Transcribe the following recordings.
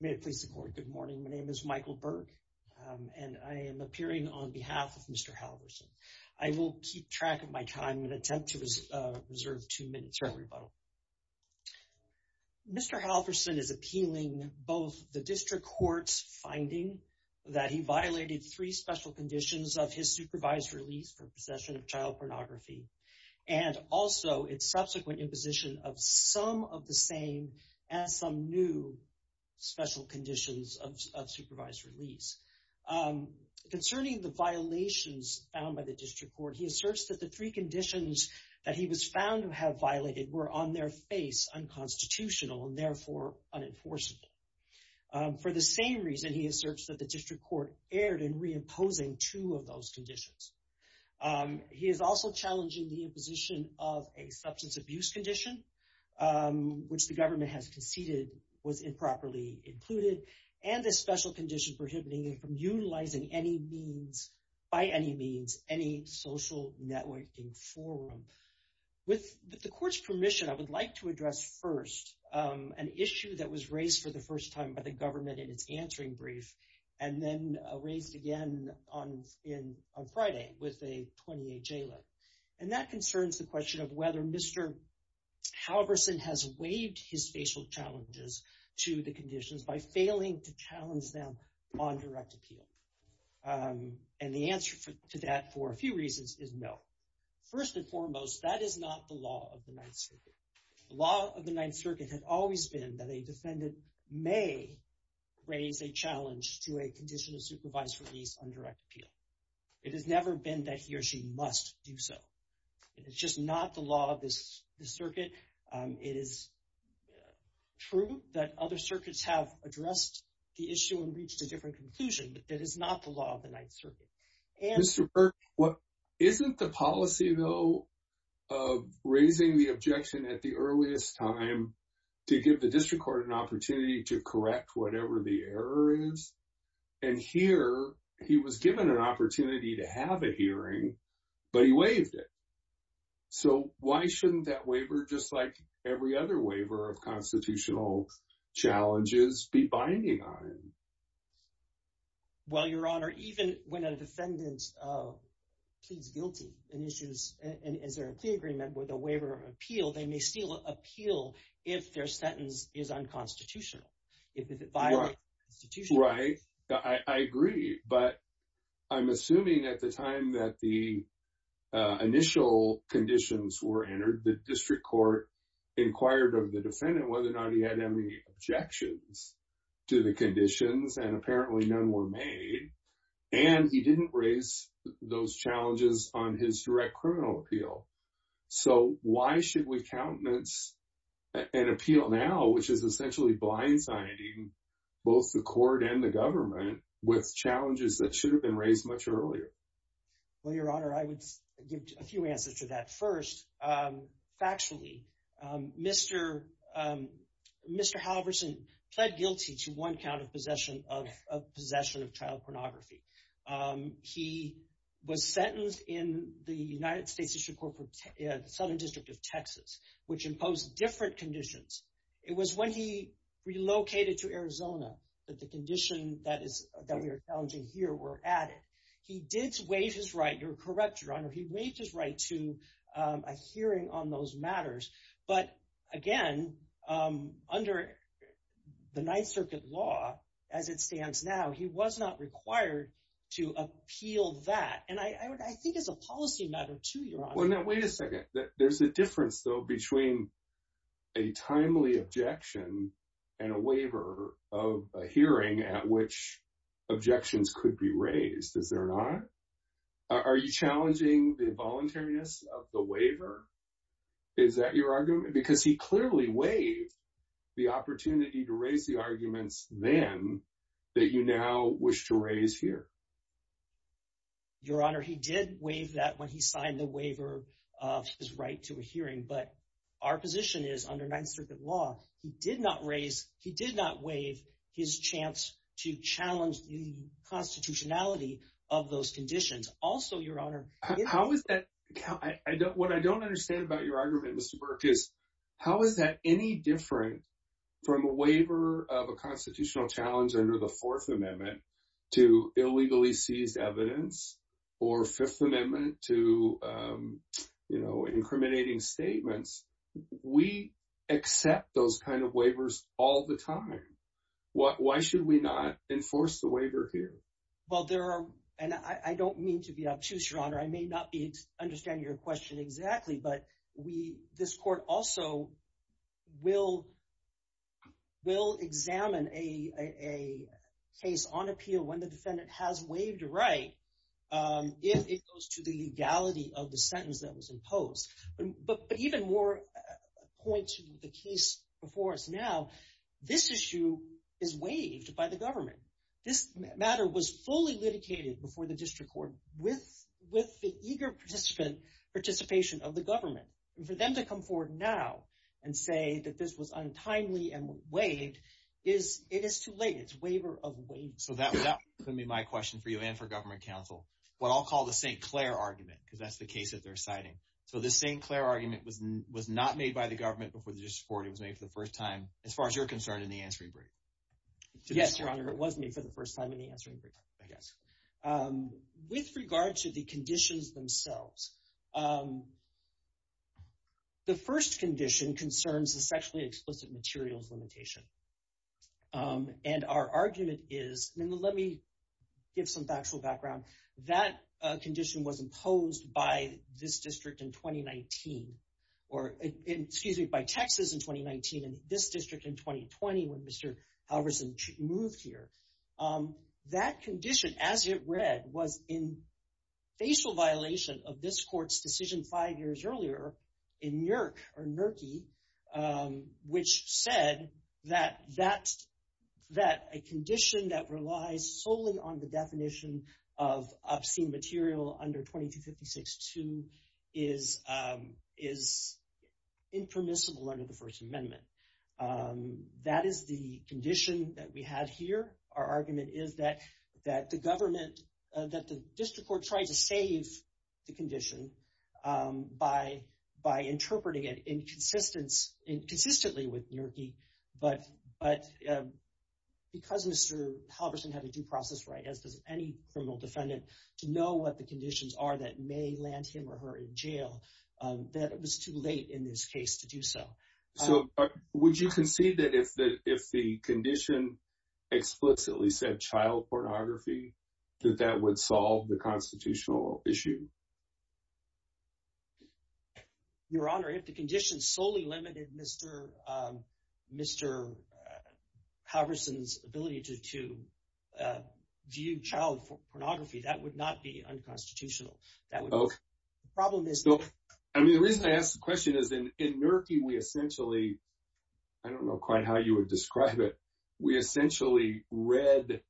May it please the Court, good morning. My name is Michael Burke and I am appearing on behalf of Mr. Halverson. I will keep track of my time and attempt to reserve two minutes for a rebuttal. Mr. Halverson is appealing both the District Court's finding that he violated three special conditions of his supervised release for possession of child pornography and also its subsequent imposition of some of the same as some new special conditions of supervised release. Concerning the violations found by the District Court, he asserts that the three conditions that he was found to have violated were on their face unconstitutional and therefore unenforceable. For the same reason, he asserts that the District Court erred in reimposing two of those conditions. He is also challenging the imposition of a substance abuse condition, which the government has conceded was improperly included, and a special condition prohibiting him from utilizing any means, by any means, any social networking forum. With the Court's permission, I would like to address first an issue that was raised for the first time by the government in its answering brief and then raised again on Friday with a 28-J letter. And that concerns the question of whether Mr. Halverson has waived his facial challenges to the conditions by failing to challenge them on direct appeal. And the answer to that, for a few reasons, is no. First and foremost, that is not the law of the Ninth Circuit. The law of the Ninth Circuit has always been that a defendant may raise a challenge to a condition of supervised release on direct appeal. It has never been that he or she must do so. It is just not the law of the Circuit. It is true that other circuits have addressed the issue and reached a different conclusion, but that is not the law of the Ninth Circuit. Mr. Burke, isn't the policy, though, of raising the objection at the earliest time to give the District Court an opportunity to correct whatever the error is? And here, he was given an opportunity to have a hearing, but he waived it. So why shouldn't that waiver, just like every other waiver of constitutional challenges, be binding on him? Well, Your Honor, even when a defendant pleads guilty and issues a plea agreement with a waiver of appeal, they may still appeal if their sentence is unconstitutional, if it violates the Constitution. Right. I agree. But I'm assuming at the time that the initial conditions were entered, the District Court inquired of the defendant whether or not he had any objections to the conditions, and apparently none were made. And he didn't raise those challenges on his direct criminal appeal. So why should we countenance an appeal now, which is essentially blindsiding both the court and the government with challenges that should have been raised much earlier? Well, Your Honor, I would give a few answers to that. First, factually, Mr. Halverson pled guilty to one count of possession of child pornography. He was sentenced in the United States District Court for the Southern District of Texas, which imposed different conditions. It was when he relocated to Arizona that the conditions that we are challenging here were added. He did waive his right – you're correct, Your Honor – he waived his right to a hearing on those matters. But, again, under the Ninth Circuit law as it stands now, he was not required to appeal that. And I think it's a policy matter, too, Your Honor. Well, now, wait a second. There's a difference, though, between a timely objection and a waiver of a hearing at which objections could be raised, is there not? Are you challenging the voluntariness of the waiver? Is that your argument? Because he clearly waived the opportunity to raise the arguments then that you now wish to raise here. Your Honor, he did waive that when he signed the waiver of his right to a hearing. But our position is, under Ninth Circuit law, he did not raise – he did not waive his chance to challenge the constitutionality of those conditions. How is that – what I don't understand about your argument, Mr. Burke, is how is that any different from a waiver of a constitutional challenge under the Fourth Amendment to illegally seized evidence or Fifth Amendment to incriminating statements? We accept those kind of waivers all the time. Why should we not enforce the waiver here? Well, there are – and I don't mean to be obtuse, Your Honor. I may not be understanding your question exactly, but we – this court also will examine a case on appeal when the defendant has waived a right if it goes to the legality of the sentence that was imposed. But even more point to the case before us now. This issue is waived by the government. This matter was fully litigated before the district court with the eager participation of the government. And for them to come forward now and say that this was untimely and waived is – it is too late. It's a waiver of waiving. So that's going to be my question for you and for government counsel, what I'll call the St. Clair argument because that's the case that they're citing. So the St. Clair argument was not made by the government before the district court. It was made for the first time as far as you're concerned in the answering brief. Yes, Your Honor. It was made for the first time in the answering brief, I guess. With regard to the conditions themselves, the first condition concerns the sexually explicit materials limitation. And our argument is – and let me give some factual background. That condition was imposed by this district in 2019 or – excuse me, by Texas in 2019 and this district in 2020 when Mr. Halverson moved here. That condition, as it read, was in facial violation of this court's decision five years earlier in NERC or NERCI, which said that a condition that relies solely on the definition of obscene material under 2256-2 is impermissible under the First Amendment. That is the condition that we have here. Our argument is that the government – that the district court tried to save the condition by interpreting it inconsistently with NERCI, but because Mr. Halverson had a due process right, as does any criminal defendant, to know what the conditions are that may land him or her in jail, that it was too late in this case to do so. So would you concede that if the condition explicitly said child pornography, that that would solve the constitutional issue? Your Honor, if the condition solely limited Mr. Halverson's ability to view child pornography, that would not be unconstitutional. I mean, the reason I ask the question is in NERCI we essentially – I don't know quite how you would describe it – we essentially read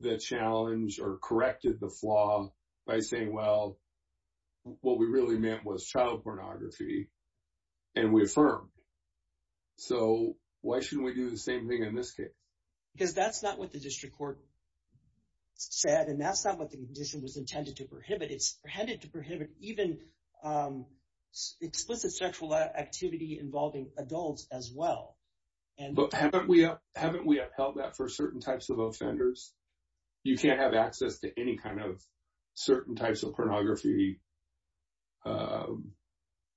the challenge or corrected the flaw by saying, well, what we really meant was child pornography, and we affirmed. So why shouldn't we do the same thing in this case? Because that's not what the district court said, and that's not what the condition was intended to prohibit. It's intended to prohibit even explicit sexual activity involving adults as well. But haven't we upheld that for certain types of offenders? You can't have access to any kind of certain types of pornography,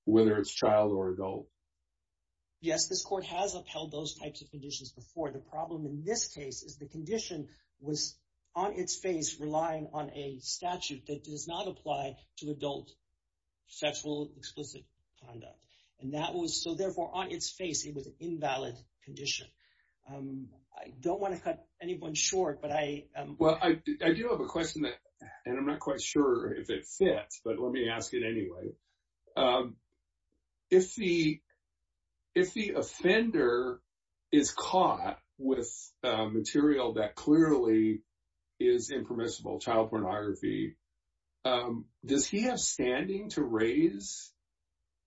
whether it's child or adult. Yes, this court has upheld those types of conditions before. The problem in this case is the condition was on its face relying on a statute that does not apply to adult sexual explicit conduct. And that was – so therefore on its face it was an invalid condition. I don't want to cut anyone short, but I – And I'm not quite sure if it fits, but let me ask it anyway. If the offender is caught with material that clearly is impermissible, child pornography, does he have standing to raise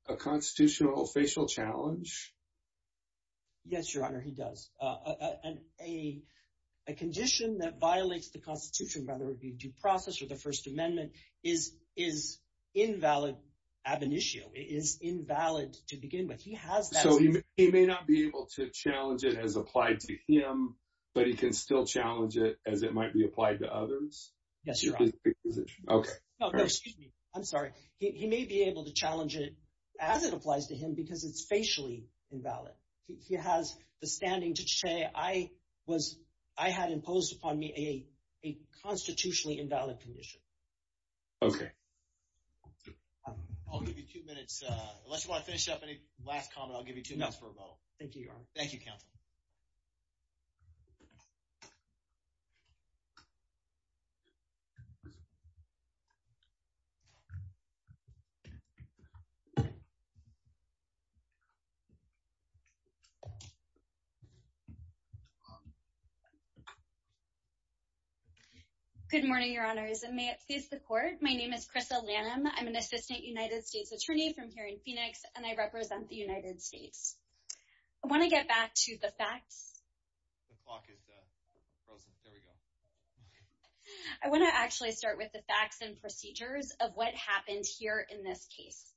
a constitutional facial challenge? Yes, Your Honor, he does. A condition that violates the Constitution, whether it be due process or the First Amendment, is invalid ab initio. It is invalid to begin with. He has that. So he may not be able to challenge it as applied to him, but he can still challenge it as it might be applied to others? Yes, Your Honor. Okay. No, no, excuse me. I'm sorry. He may be able to challenge it as it applies to him because it's facially invalid. He has the standing to say I was – I had imposed upon me a constitutionally invalid condition. Okay. I'll give you two minutes. Unless you want to finish up any last comment, I'll give you two minutes for rebuttal. No, thank you, Your Honor. Thank you, counsel. Good morning, Your Honors, and may it please the Court. My name is Krista Lanham. I'm an assistant United States attorney from here in Phoenix, and I represent the United States. I want to get back to the facts. The clock is frozen. There we go. I want to actually start with the facts and procedures of what happened here in this case.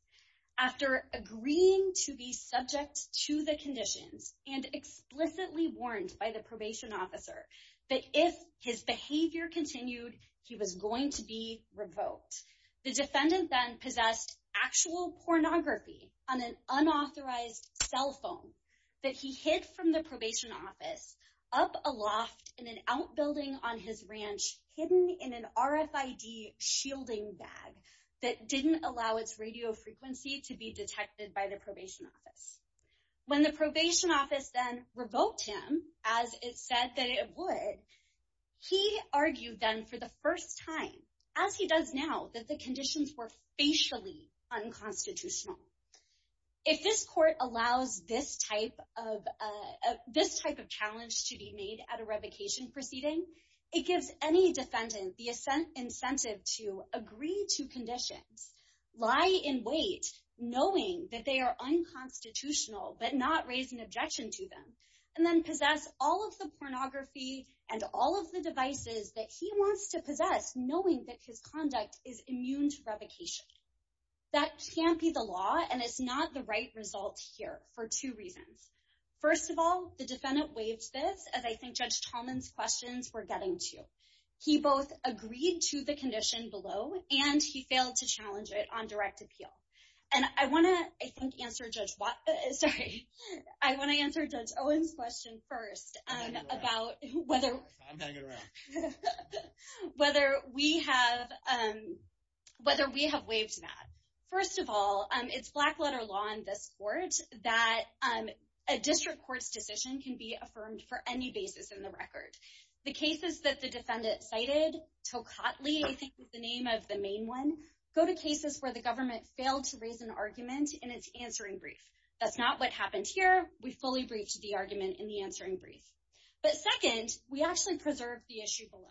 After agreeing to be subject to the conditions and explicitly warned by the probation officer that if his behavior continued, he was going to be revoked, the defendant then possessed actual pornography on an unauthorized cell phone that he hid from the probation office up aloft in an outbuilding on his ranch hidden in an RFID shielding bag that didn't allow its radio frequency to be detected by the probation office. When the probation office then revoked him, as it said that it would, he argued then for the first time, as he does now, that the conditions were facially unconstitutional. If this court allows this type of challenge to be made at a revocation proceeding, it gives any defendant the incentive to agree to conditions, lie in wait, knowing that they are unconstitutional but not raise an objection to them, and then possess all of the pornography and all of the devices that he wants to possess, knowing that his conduct is immune to revocation. That can't be the law, and it's not the right result here for two reasons. First of all, the defendant waived this, as I think Judge Tallman's questions were getting to. He both agreed to the condition below, and he failed to challenge it on direct appeal. I want to answer Judge Owen's question first about whether we have waived that. First of all, it's black letter law in this court that a district court's decision can be affirmed for any basis in the record. The cases that the defendant cited, Tokatli, I think is the name of the main one, go to cases where the government failed to raise an argument in its answering brief. That's not what happened here. We fully briefed the argument in the answering brief. But second, we actually preserved the issue below.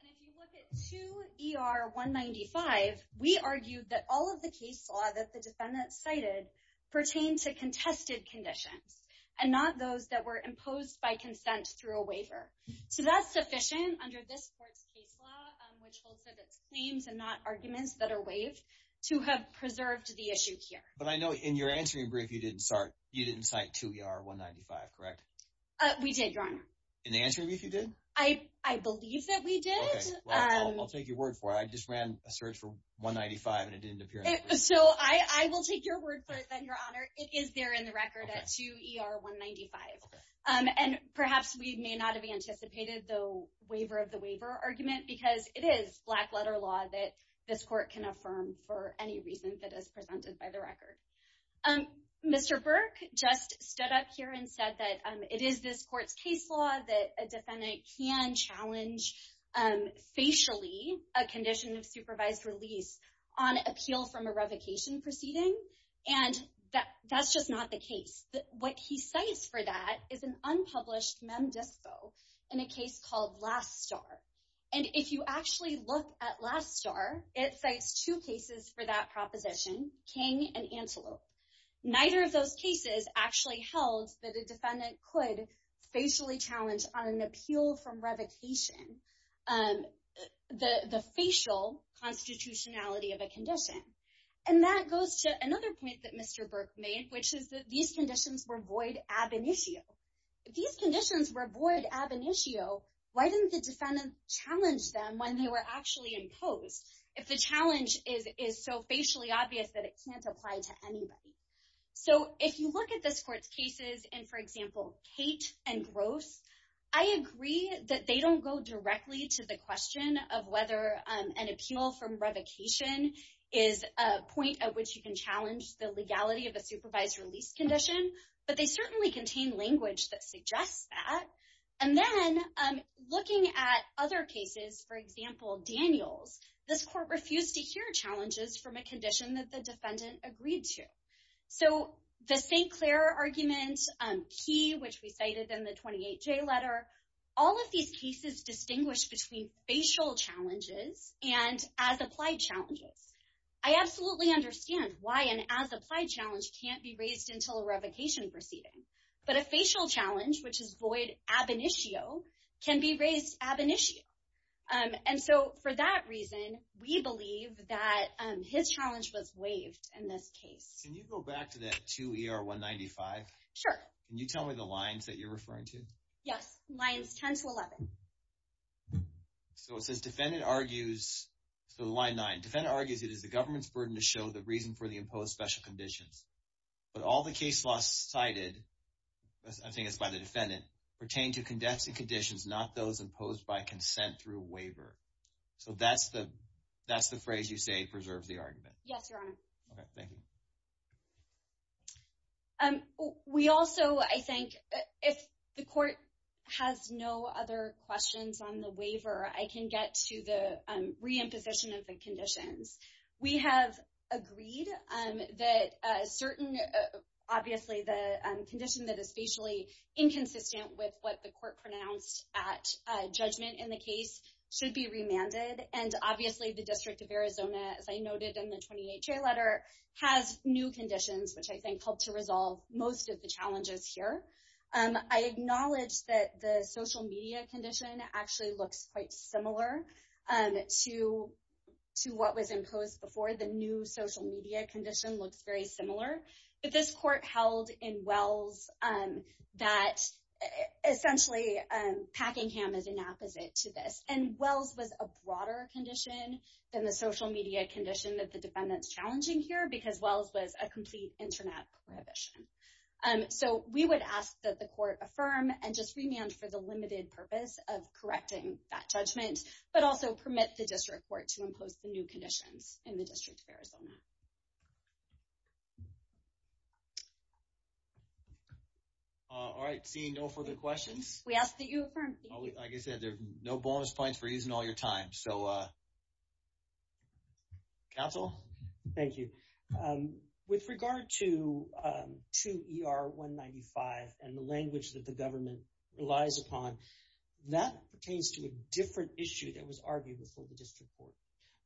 And if you look at 2 ER 195, we argued that all of the case law that the defendant cited pertained to contested conditions and not those that were imposed by consent through a waiver. So that's sufficient under this court's case law, which holds that it's claims and not arguments that are waived, to have preserved the issue here. But I know in your answering brief you didn't cite 2 ER 195, correct? We did, Your Honor. In the answering brief you did? I believe that we did. Well, I'll take your word for it. I just ran a search for 195, and it didn't appear. So I will take your word for it, then, Your Honor. It is there in the record at 2 ER 195. And perhaps we may not have anticipated the waiver of the waiver argument, because it is black-letter law that this court can affirm for any reason that is presented by the record. Mr. Burke just stood up here and said that it is this court's case law that a defendant can challenge facially a condition of supervised release on appeal from a revocation proceeding. And that's just not the case. What he cites for that is an unpublished mem disco in a case called Last Star. And if you actually look at Last Star, it cites two cases for that proposition, King and Antelope. Neither of those cases actually held that a defendant could facially challenge on an appeal from revocation the facial constitutionality of a condition. And that goes to another point that Mr. Burke made, which is that these conditions were void ab initio. If these conditions were void ab initio, why didn't the defendant challenge them when they were actually imposed, if the challenge is so facially obvious that it can't apply to anybody? So if you look at this court's cases in, for example, Kate and Gross, I agree that they don't go directly to the question of whether an appeal from revocation is a point at which you can challenge the legality of a supervised release condition. But they certainly contain language that suggests that. And then looking at other cases, for example, Daniels, this court refused to hear challenges from a condition that the defendant agreed to. So the St. Clair argument, Key, which we cited in the 28J letter, all of these cases distinguish between facial challenges and as-applied challenges. I absolutely understand why an as-applied challenge can't be raised until a revocation proceeding. But a facial challenge, which is void ab initio, can be raised ab initio. And so for that reason, we believe that his challenge was waived in this case. Can you go back to that 2 ER 195? Sure. Can you tell me the lines that you're referring to? Yes, lines 10 to 11. So it says defendant argues, so line 9, defendant argues it is the government's burden to show the reason for the imposed special conditions. But all the case laws cited, I think it's by the defendant, pertain to condensing conditions, not those imposed by consent through a waiver. So that's the phrase you say preserves the argument. Yes, Your Honor. Okay, thank you. We also, I think, if the court has no other questions on the waiver, I can get to the re-imposition of the conditions. We have agreed that a certain, obviously, the condition that is facially inconsistent with what the court pronounced at judgment in the case should be remanded. And obviously, the District of Arizona, as I noted in the 28-J letter, has new conditions, which I think help to resolve most of the challenges here. I acknowledge that the social media condition actually looks quite similar to what was imposed before. The new social media condition looks very similar. But this court held in Wells that, essentially, Packingham is an opposite to this. And Wells was a broader condition than the social media condition that the defendant's challenging here because Wells was a complete internet prohibition. So we would ask that the court affirm and just remand for the limited purpose of correcting that judgment, but also permit the district court to impose the new conditions in the District of Arizona. All right, seeing no further questions. We ask that you affirm. Like I said, there are no bonus points for using all your time. Counsel? Thank you. With regard to 2 ER 195 and the language that the government relies upon, that pertains to a different issue that was argued before the district court.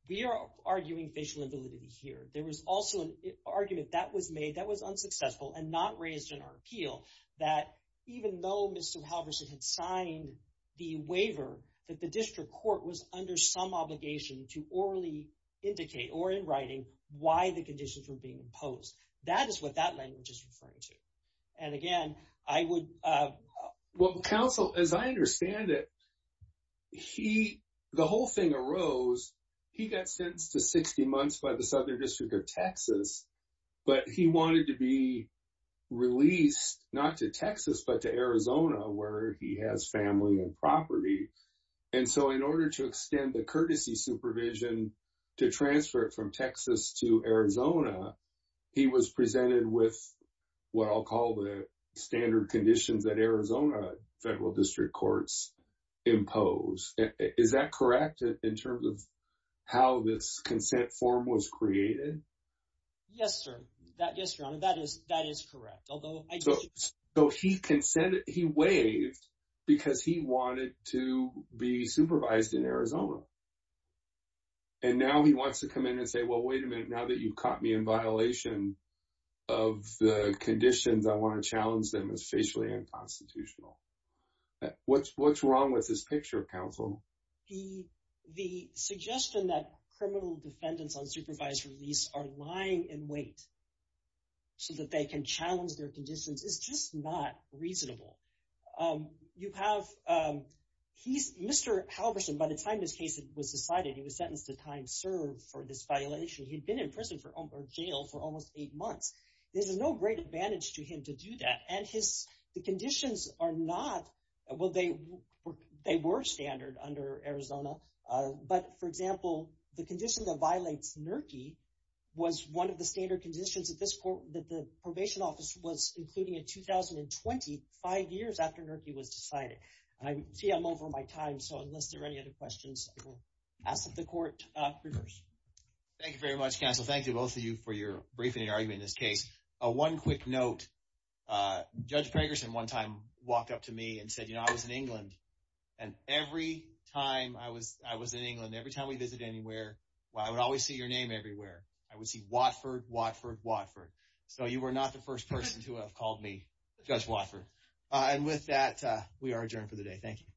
We are arguing facial invalidity here. There was also an argument that was made that was unsuccessful and not raised in our appeal. That even though Mr. Halverson had signed the waiver, that the district court was under some obligation to orally indicate or in writing why the conditions were being imposed. That is what that language is referring to. And again, I would. Well, counsel, as I understand it, he the whole thing arose. He got sentenced to 60 months by the Southern District of Texas, but he wanted to be released not to Texas, but to Arizona, where he has family and property. And so in order to extend the courtesy supervision to transfer it from Texas to Arizona, he was presented with what I'll call the standard conditions that Arizona federal district courts impose. Is that correct in terms of how this consent form was created? Yes, sir. Yes, your honor, that is correct. So he consented, he waived because he wanted to be supervised in Arizona. And now he wants to come in and say, well, wait a minute, now that you've caught me in violation of the conditions, I want to challenge them as facially unconstitutional. What's wrong with this picture, counsel? The suggestion that criminal defendants on supervised release are lying in wait so that they can challenge their conditions is just not reasonable. You have he's Mr. Halverson. By the time this case was decided, he was sentenced to time served for this violation. He'd been in prison for jail for almost eight months. There's no great advantage to him to do that. And his conditions are not. Well, they were standard under Arizona. But, for example, the condition that violates NERCI was one of the standard conditions at this court that the probation office was including in 2020, five years after NERCI was decided. I see I'm over my time. So unless there are any other questions, I will ask that the court reverse. Thank you very much, counsel. Thank you both of you for your briefing and argument in this case. One quick note. Judge Gregerson one time walked up to me and said, you know, I was in England and every time I was I was in England, every time we visit anywhere, I would always see your name everywhere. I would see Watford, Watford, Watford. So you were not the first person to have called me Judge Watford. And with that, we are adjourned for the day. Thank you.